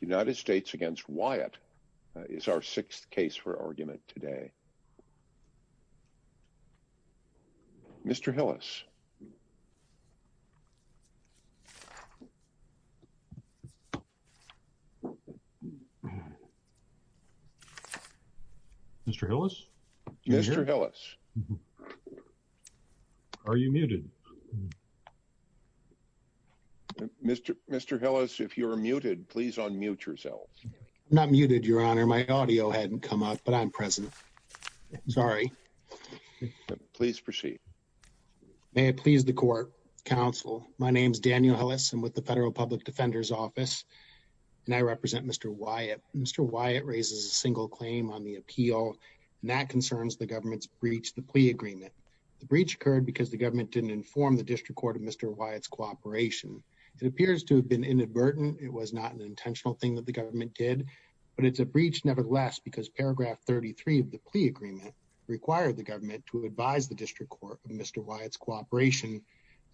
United States v. Wyatt is our sixth case for argument today. Mr. Hillis? Mr. Hillis? Mr. Hillis? Are you muted? Mr. Mr. Hillis, if you're muted, please unmute yourself. Not muted, Your Honor. My audio hadn't come up, but I'm present. Sorry. Please proceed. May it please the court, counsel. My name is Daniel Hillis. I'm with the Federal Public Defender's Office, and I represent Mr. Wyatt. Mr. Wyatt raises a single claim on the appeal, and that concerns the government's breach the plea agreement. The breach occurred because the government didn't inform the district court of Mr. Wyatt's cooperation. It appears to have been inadvertent. It was not an intentional thing that the government did, but it's a breach nevertheless because paragraph 33 of the plea agreement required the government to advise the district court of Mr. Wyatt's cooperation,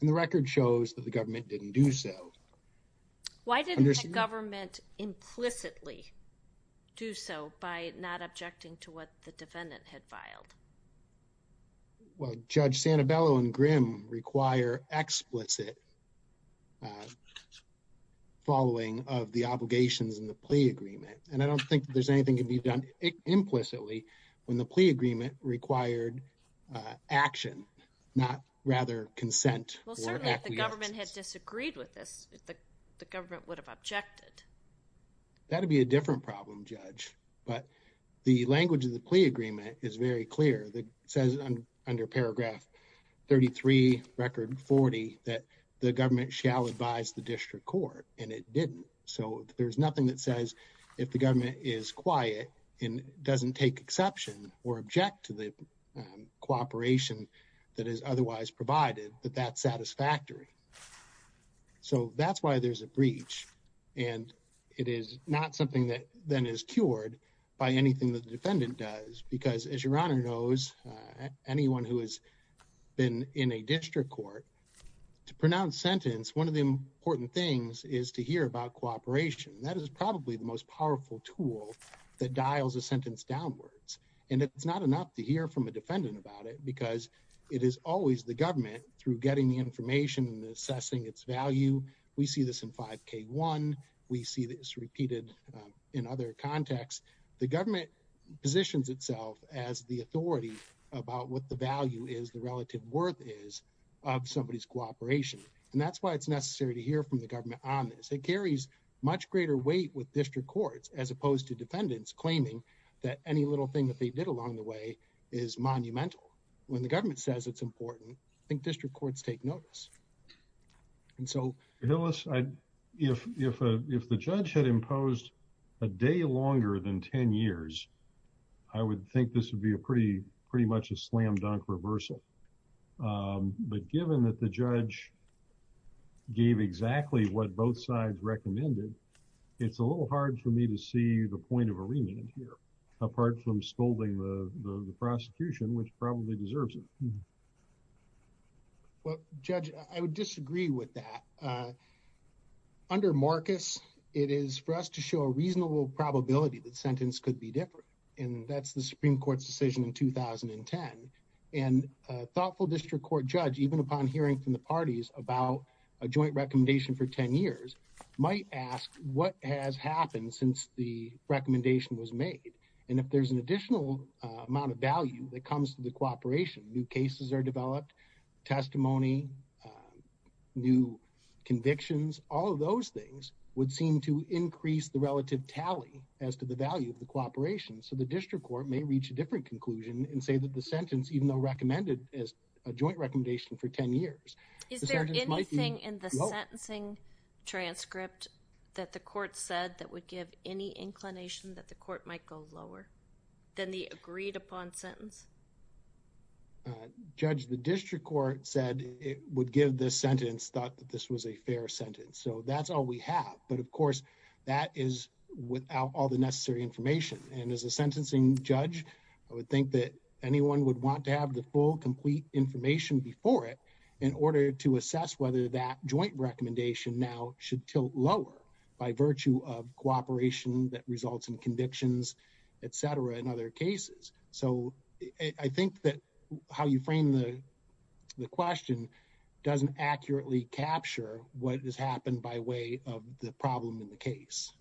and the record shows that the government didn't do so. Why didn't the government implicitly do so by not objecting to what the defendant had Well, Judge Santabello and Grimm require explicit following of the obligations in the plea agreement, and I don't think that there's anything that can be done implicitly when the plea agreement required action, not rather consent or acquiescence. Well, certainly if the government had disagreed with this, the government would have objected. That would be a different problem, Judge, but the language of the plea agreement is very clear that says under paragraph 33 record 40 that the government shall advise the district court, and it didn't, so there's nothing that says if the government is quiet and doesn't take exception or object to the cooperation that is otherwise provided that that's satisfactory. So that's why there's a breach, and it is not something that then is cured by anything that the defendant does because, as your Honor knows, anyone who has been in a district court to pronounce sentence, one of the important things is to hear about cooperation. That is probably the most powerful tool that dials a sentence downwards, and it's not enough to hear from a defendant about it because it is always the government through getting the information and assessing its value. We see this in 5K1. We see this repeated in other contexts. The government positions itself as the authority about what the value is, the relative worth is of somebody's cooperation, and that's why it's necessary to hear from the government on this. It carries much greater weight with district courts as opposed to defendants claiming that any little thing that they did along the way is monumental. When the government says it's important, I think district courts take notice, and so If the judge had imposed a day longer than 10 years, I would think this would be pretty much a slam-dunk reversal, but given that the judge gave exactly what both sides recommended, it's a little hard for me to see the point of arraignment here apart from scolding the prosecution, which probably deserves it. Well, Judge, I would disagree with that. Under Marcus, it is for us to show a reasonable probability that the sentence could be different, and that's the Supreme Court's decision in 2010, and a thoughtful district court judge, even upon hearing from the parties about a joint recommendation for 10 years, might ask what has happened since the recommendation was made, and if there's an additional amount of value that comes to the cooperation, new cases are developed, testimony, new convictions, all of those things would seem to increase the relative tally as to the value of the cooperation. So the district court may reach a different conclusion and say that the sentence, even though recommended as a joint recommendation for 10 years, the sentence might be low. Is there anything in the sentencing transcript that the court said that would give any inclination that the court might go lower than the agreed-upon sentence? Judge, the district court said it would give this sentence, thought that this was a fair sentence. So that's all we have. But of course, that is without all the necessary information. And as a sentencing judge, I would think that anyone would want to have the full, complete information before it in order to assess whether that joint recommendation now should tilt lower by virtue of cooperation that results in convictions, et cetera, in other cases. So I think that how you frame the question doesn't accurately capture what has happened by way of the problem in the case.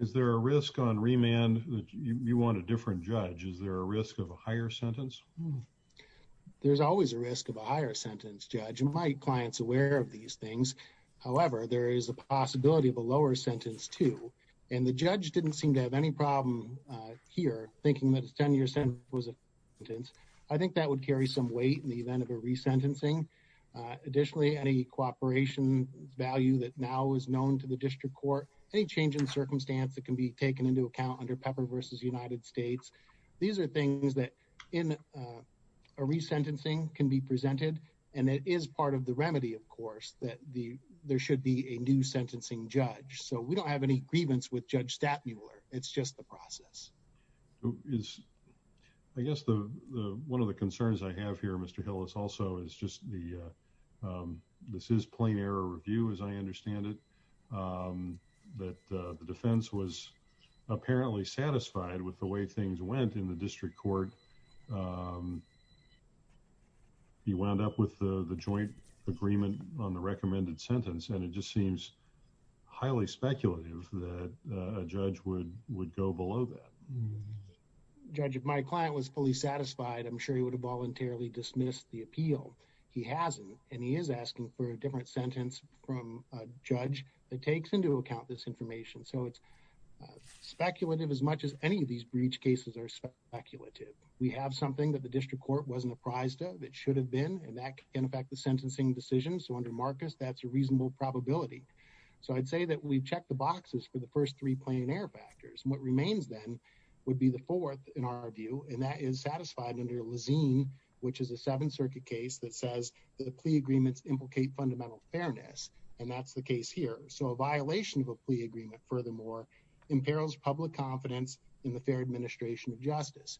Is there a risk on remand that you want a different judge? Is there a risk of a higher sentence? There's always a risk of a higher sentence, Judge. My client's aware of these things. However, there is a possibility of a lower sentence, too. And the judge didn't seem to have any problem here, thinking that a 10-year sentence was a sentence. I think that would carry some weight in the event of a resentencing. Additionally, any cooperation value that now is known to the district court, any change in circumstance that can be taken into account under Pepper v. United States, these are things that in a resentencing can be presented. And it is part of the remedy, of course, that there should be a new sentencing judge. So we don't have any grievance with Judge Stapmuller. It's just the process. I guess one of the concerns I have here, Mr. Hillis, also is just this is plain error review, as I understand it, that the defense was apparently satisfied with the way things went in the district court. He wound up with the joint agreement on the recommended sentence, and it just seems highly speculative that a judge would go below that. Judge, if my client was fully satisfied, I'm sure he would have voluntarily dismissed the appeal. He hasn't, and he is asking for a different sentence from a judge that takes into account this information. So it's speculative as much as any of these breach cases are speculative. We have something that the district court wasn't apprised of, that should have been, and that can affect the sentencing decision. So under Marcus, that's a reasonable probability. So I'd say that we've checked the boxes for the first three plain error factors. What remains then would be the fourth, in our view, and that is satisfied under Lazine, which is a Seventh Circuit case that says the plea agreements implicate fundamental fairness, and that's the case here. So a violation of a plea agreement, furthermore, imperils public confidence in the fair administration of justice.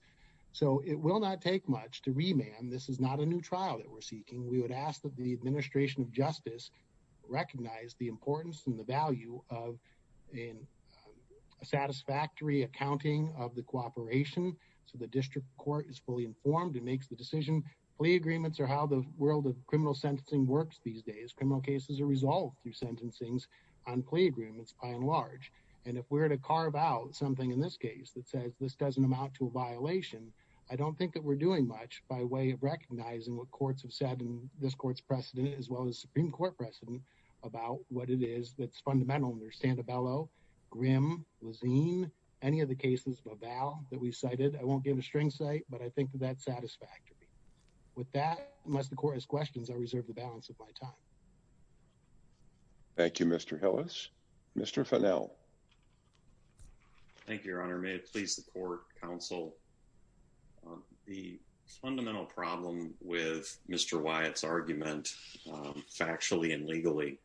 So it will not take much to remand. This is not a new trial that we're seeking. We would ask that the administration of justice recognize the importance and the value of a satisfactory accounting of the cooperation. So the district court is fully informed and makes the decision. Plea agreements are how the world of criminal sentencing works these days. Most criminal cases are resolved through sentencings on plea agreements, by and large. And if we're to carve out something in this case that says this doesn't amount to a violation, I don't think that we're doing much by way of recognizing what courts have said, and this court's precedent, as well as Supreme Court precedent, about what it is that's fundamental under Sandobello, Grimm, Lazine, any of the cases above Val that we cited. I won't give a string say, but I think that that's satisfactory. With that, unless the court has questions, I reserve the balance of my time. Thank you, Mr. Hillis. Mr. Fennell. Thank you, Your Honor. May it please the court, counsel. The fundamental problem with Mr. Wyatt's argument factually and legally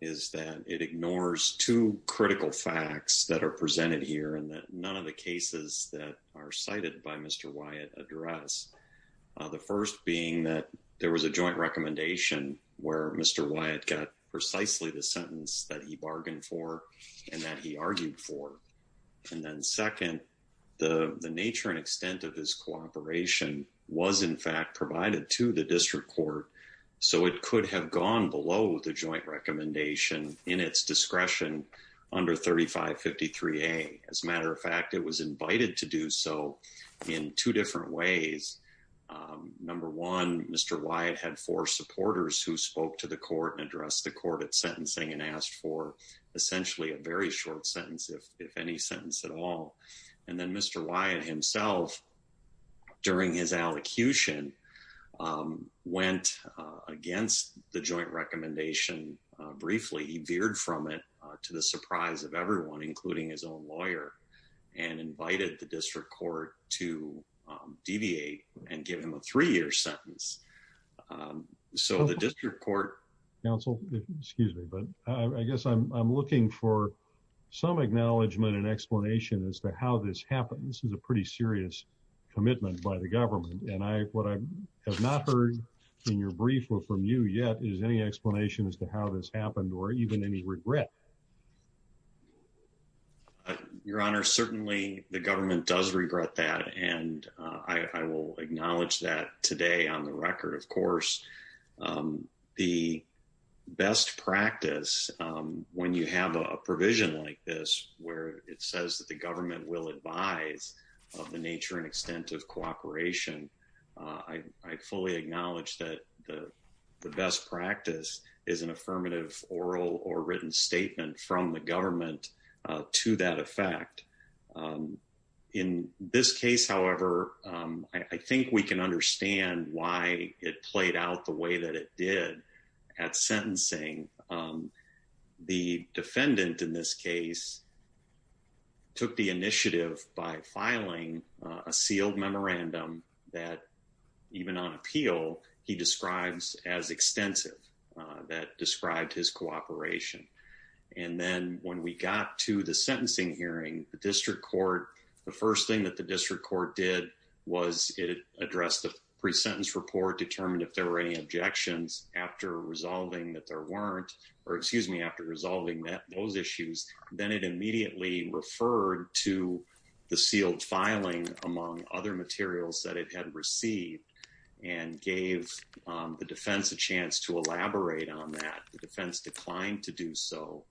is that it ignores two critical facts that are presented here and that none of the cases that are cited by Mr. Wyatt address. The first being that there was a joint recommendation where Mr. Wyatt got precisely the sentence that he bargained for and that he argued for. And then second, the nature and extent of his cooperation was, in fact, provided to the district court, so it could have gone below the joint recommendation in its discretion under 3553A. As a matter of fact, it was invited to do so in two different ways. Number one, Mr. Wyatt had four supporters who spoke to the court and addressed the court at sentencing and asked for essentially a very short sentence, if any sentence at all. And then Mr. Wyatt himself, during his allocution, went against the joint recommendation briefly. He veered from it to the surprise of everyone, including his own lawyer, and invited the district court to deviate and give him a three-year sentence. So the district court... Counsel, excuse me, but I guess I'm looking for some acknowledgment and explanation as to how this happened. This is a pretty serious commitment by the government, and what I have not heard in your Your Honor, certainly the government does regret that, and I will acknowledge that today on the record, of course. The best practice, when you have a provision like this, where it says that the government will advise of the nature and extent of cooperation, I fully acknowledge that the best practice is an affirmative oral or written statement from the government to that effect. In this case, however, I think we can understand why it played out the way that it did at sentencing. The defendant in this case took the initiative by filing a sealed memorandum that, even on that, described his cooperation. And then when we got to the sentencing hearing, the district court, the first thing that the district court did was it addressed the pre-sentence report, determined if there were any objections after resolving that there weren't, or excuse me, after resolving those issues, then it immediately referred to the sealed filing among other materials that it had received and gave the defense a chance to elaborate on that. The defense declined to do so.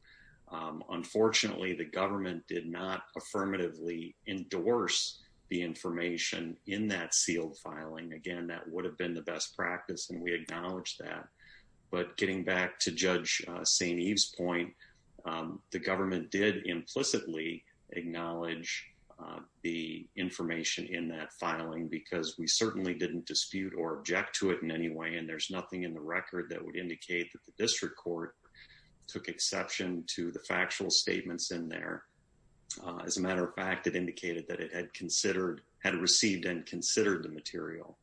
Unfortunately, the government did not affirmatively endorse the information in that sealed filing. Again, that would have been the best practice, and we acknowledge that. But getting back to Judge St. Eve's point, the government did implicitly acknowledge the information in that filing because we certainly didn't dispute or object to it in any way, and there's nothing in the record that would indicate that the district court took exception to the factual statements in there. As a matter of fact, it indicated that it had received and considered the material.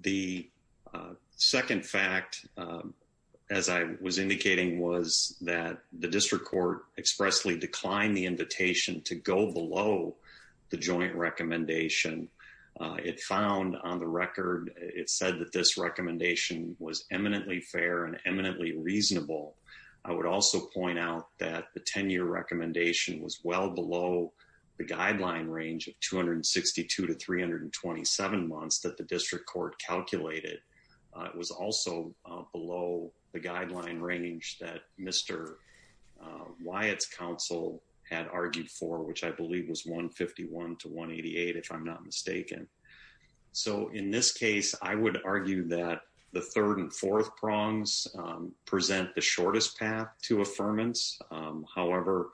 The second fact, as I was indicating, was that the district court expressly declined the joint recommendation. It found on the record, it said that this recommendation was eminently fair and eminently reasonable. I would also point out that the 10-year recommendation was well below the guideline range of 262 to 327 months that the district court calculated. It was also below the guideline range that Mr. Wyatt's counsel had argued for, which I believe was 151 to 188, if I'm not mistaken. So in this case, I would argue that the third and fourth prongs present the shortest path to affirmance. However,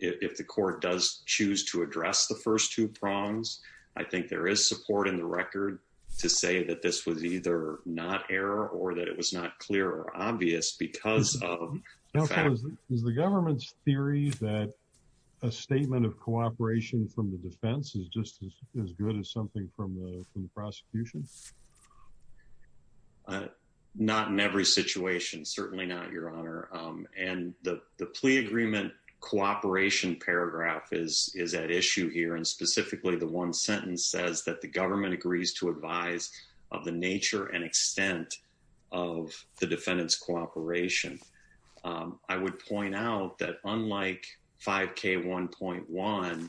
if the court does choose to address the first two prongs, I think there is support in the record to say that this was either not error or that it was not clear or obvious because of the government's theory that a statement of cooperation from the defense is just as good as something from the prosecution. Not in every situation, certainly not, Your Honor, and the plea agreement cooperation paragraph is at issue here. And specifically, the one sentence says that the government agrees to advise of the nature and extent of the defendant's cooperation. I would point out that unlike 5K1.1,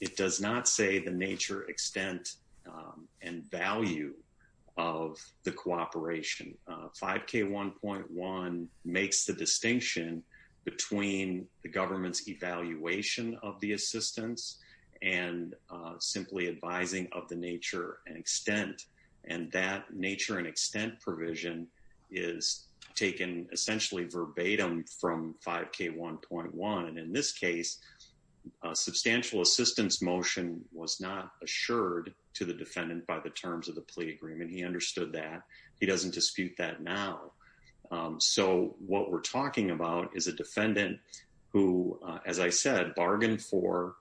it does not say the nature, extent and value of the cooperation. 5K1.1 makes the distinction between the government's evaluation of the extent and that nature and extent provision is taken essentially verbatim from 5K1.1. And in this case, a substantial assistance motion was not assured to the defendant by the terms of the plea agreement. He understood that. He doesn't dispute that now. So what we're talking about is a defendant who, as I said, bargained for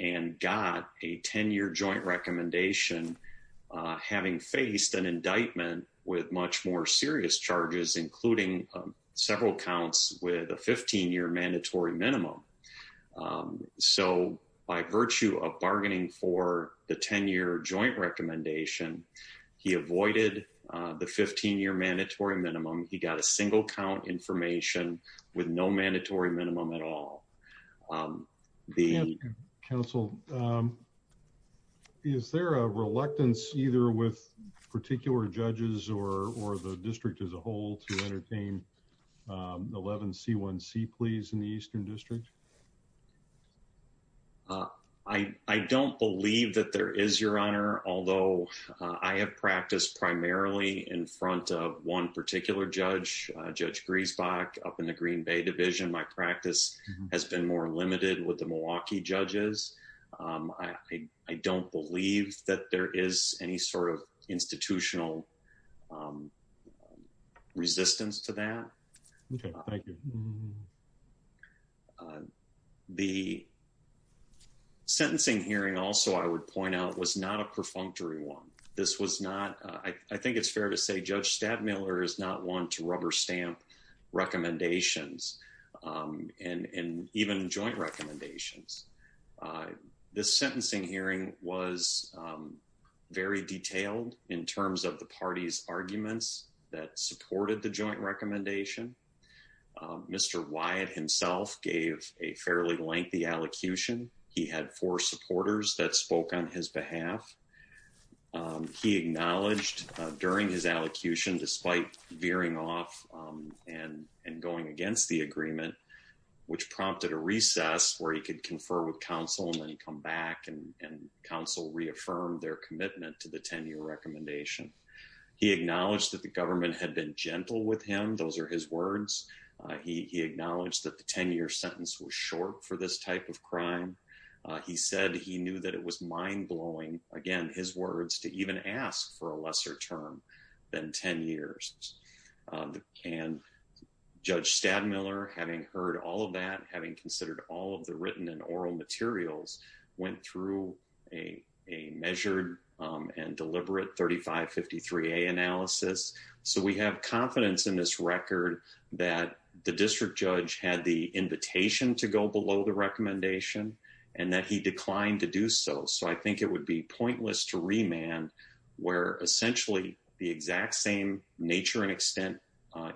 and got a 10 year joint recommendation, having faced an indictment with much more serious charges, including several counts with a 15 year mandatory minimum. So by virtue of bargaining for the 10 year joint recommendation, he avoided the 15 year mandatory minimum. He got a single count information with no mandatory minimum at all. The. Counsel, is there a reluctance either with particular judges or the district as a whole to entertain 11C1C pleas in the Eastern District? I don't believe that there is, Your Honor, although I have practiced primarily in front of one particular judge, Judge Griesbach up in the Green Bay Division. My practice has been more limited with the Milwaukee judges. I don't believe that there is any sort of institutional resistance to that. The sentencing hearing also, I would point out, was not a perfunctory one. This was not. I think it's fair to say Judge Stadmiller is not one to rubber stamp recommendations and even joint recommendations. This sentencing hearing was very detailed in terms of the party's arguments that supported the joint recommendation. Mr. Wyatt himself gave a fairly lengthy allocution. He had four supporters that spoke on his behalf. He acknowledged during his allocution, despite veering off and going against the agreement, which prompted a recess where he could confer with counsel and then come back and counsel reaffirmed their commitment to the 10-year recommendation. He acknowledged that the government had been gentle with him. Those are his words. He acknowledged that the 10-year sentence was short for this type of crime. He said he knew that it was mind-blowing, again, his words, to even ask for a lesser term than 10 years. And Judge Stadmiller, having heard all of that, having considered all of the written and oral materials, went through a measured and deliberate 3553A analysis. So we have confidence in this record that the district judge had the invitation to go below the recommendation and that he declined to do so. So I think it would be pointless to remand where essentially the exact same nature and extent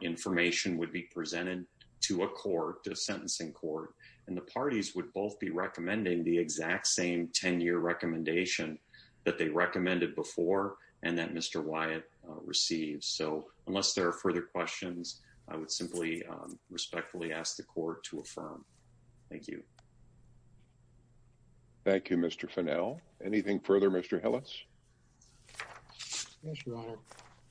information would be presented to a court, to a sentencing court, and the parties would both be recommending the exact same 10-year recommendation that they recommended before and that Mr. Wyatt received. So unless there are further questions, I would simply respectfully ask the court to affirm. Thank you. Thank you, Mr. Fennell. Anything further, Mr. Hillis? Yes, Your Honor.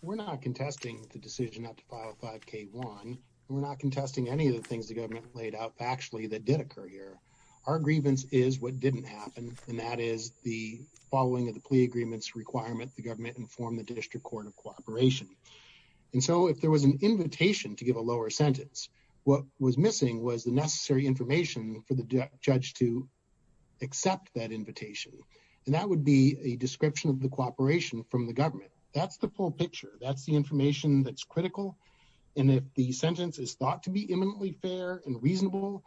We're not contesting the decision not to file 5K1. We're not contesting any of the things the government laid out factually that did occur here. Our grievance is what didn't happen, and that is the following of the plea agreement's requirement. The government informed the district court of cooperation. And so if there was an invitation to give a lower sentence, what was missing was the necessary information for the judge to accept that invitation. And that would be a description of the cooperation from the government. That's the full picture. That's the information that's critical. And if the sentence is thought to be imminently fair and reasonable,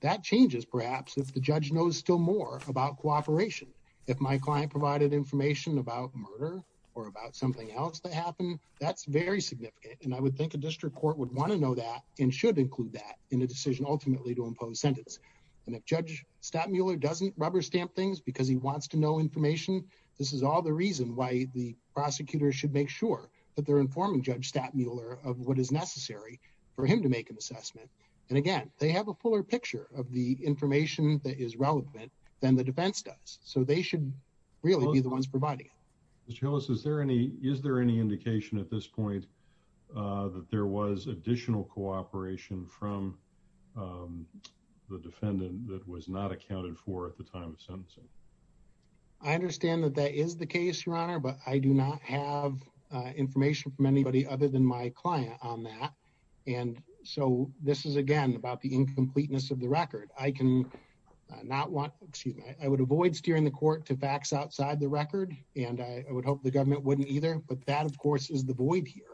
that changes, perhaps, if the judge knows still more about cooperation. If my client provided information about murder or about something else that happened, that's very significant. And I would think a district court would want to know that and should include that in a relatively to impose sentence. And if Judge Stattmuller doesn't rubber stamp things because he wants to know information, this is all the reason why the prosecutor should make sure that they're informing Judge Stattmuller of what is necessary for him to make an assessment. And again, they have a fuller picture of the information that is relevant than the defense does. So they should really be the ones providing it. Mr. Hillis, is there any is there any indication at this point that there was additional cooperation from the defendant that was not accounted for at the time of sentencing? I understand that that is the case, Your Honor, but I do not have information from anybody other than my client on that. And so this is, again, about the incompleteness of the record. I can not want excuse me. I would avoid steering the court to facts outside the record, and I would hope the government wouldn't either. But that, of course, is the void here.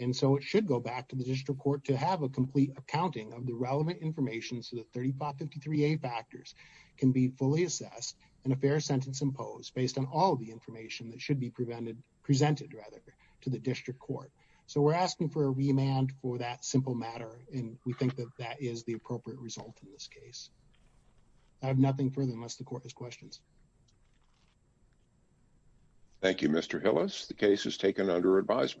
And so it should go back to the district court to have a complete accounting of the relevant information so that thirty five fifty three factors can be fully assessed and a fair sentence imposed based on all the information that should be prevented presented rather to the district court. So we're asking for a remand for that simple matter. And we think that that is the appropriate result in this case. I have nothing further unless the court has questions. Thank you, Mr. Hillis, the case is taken under advisement.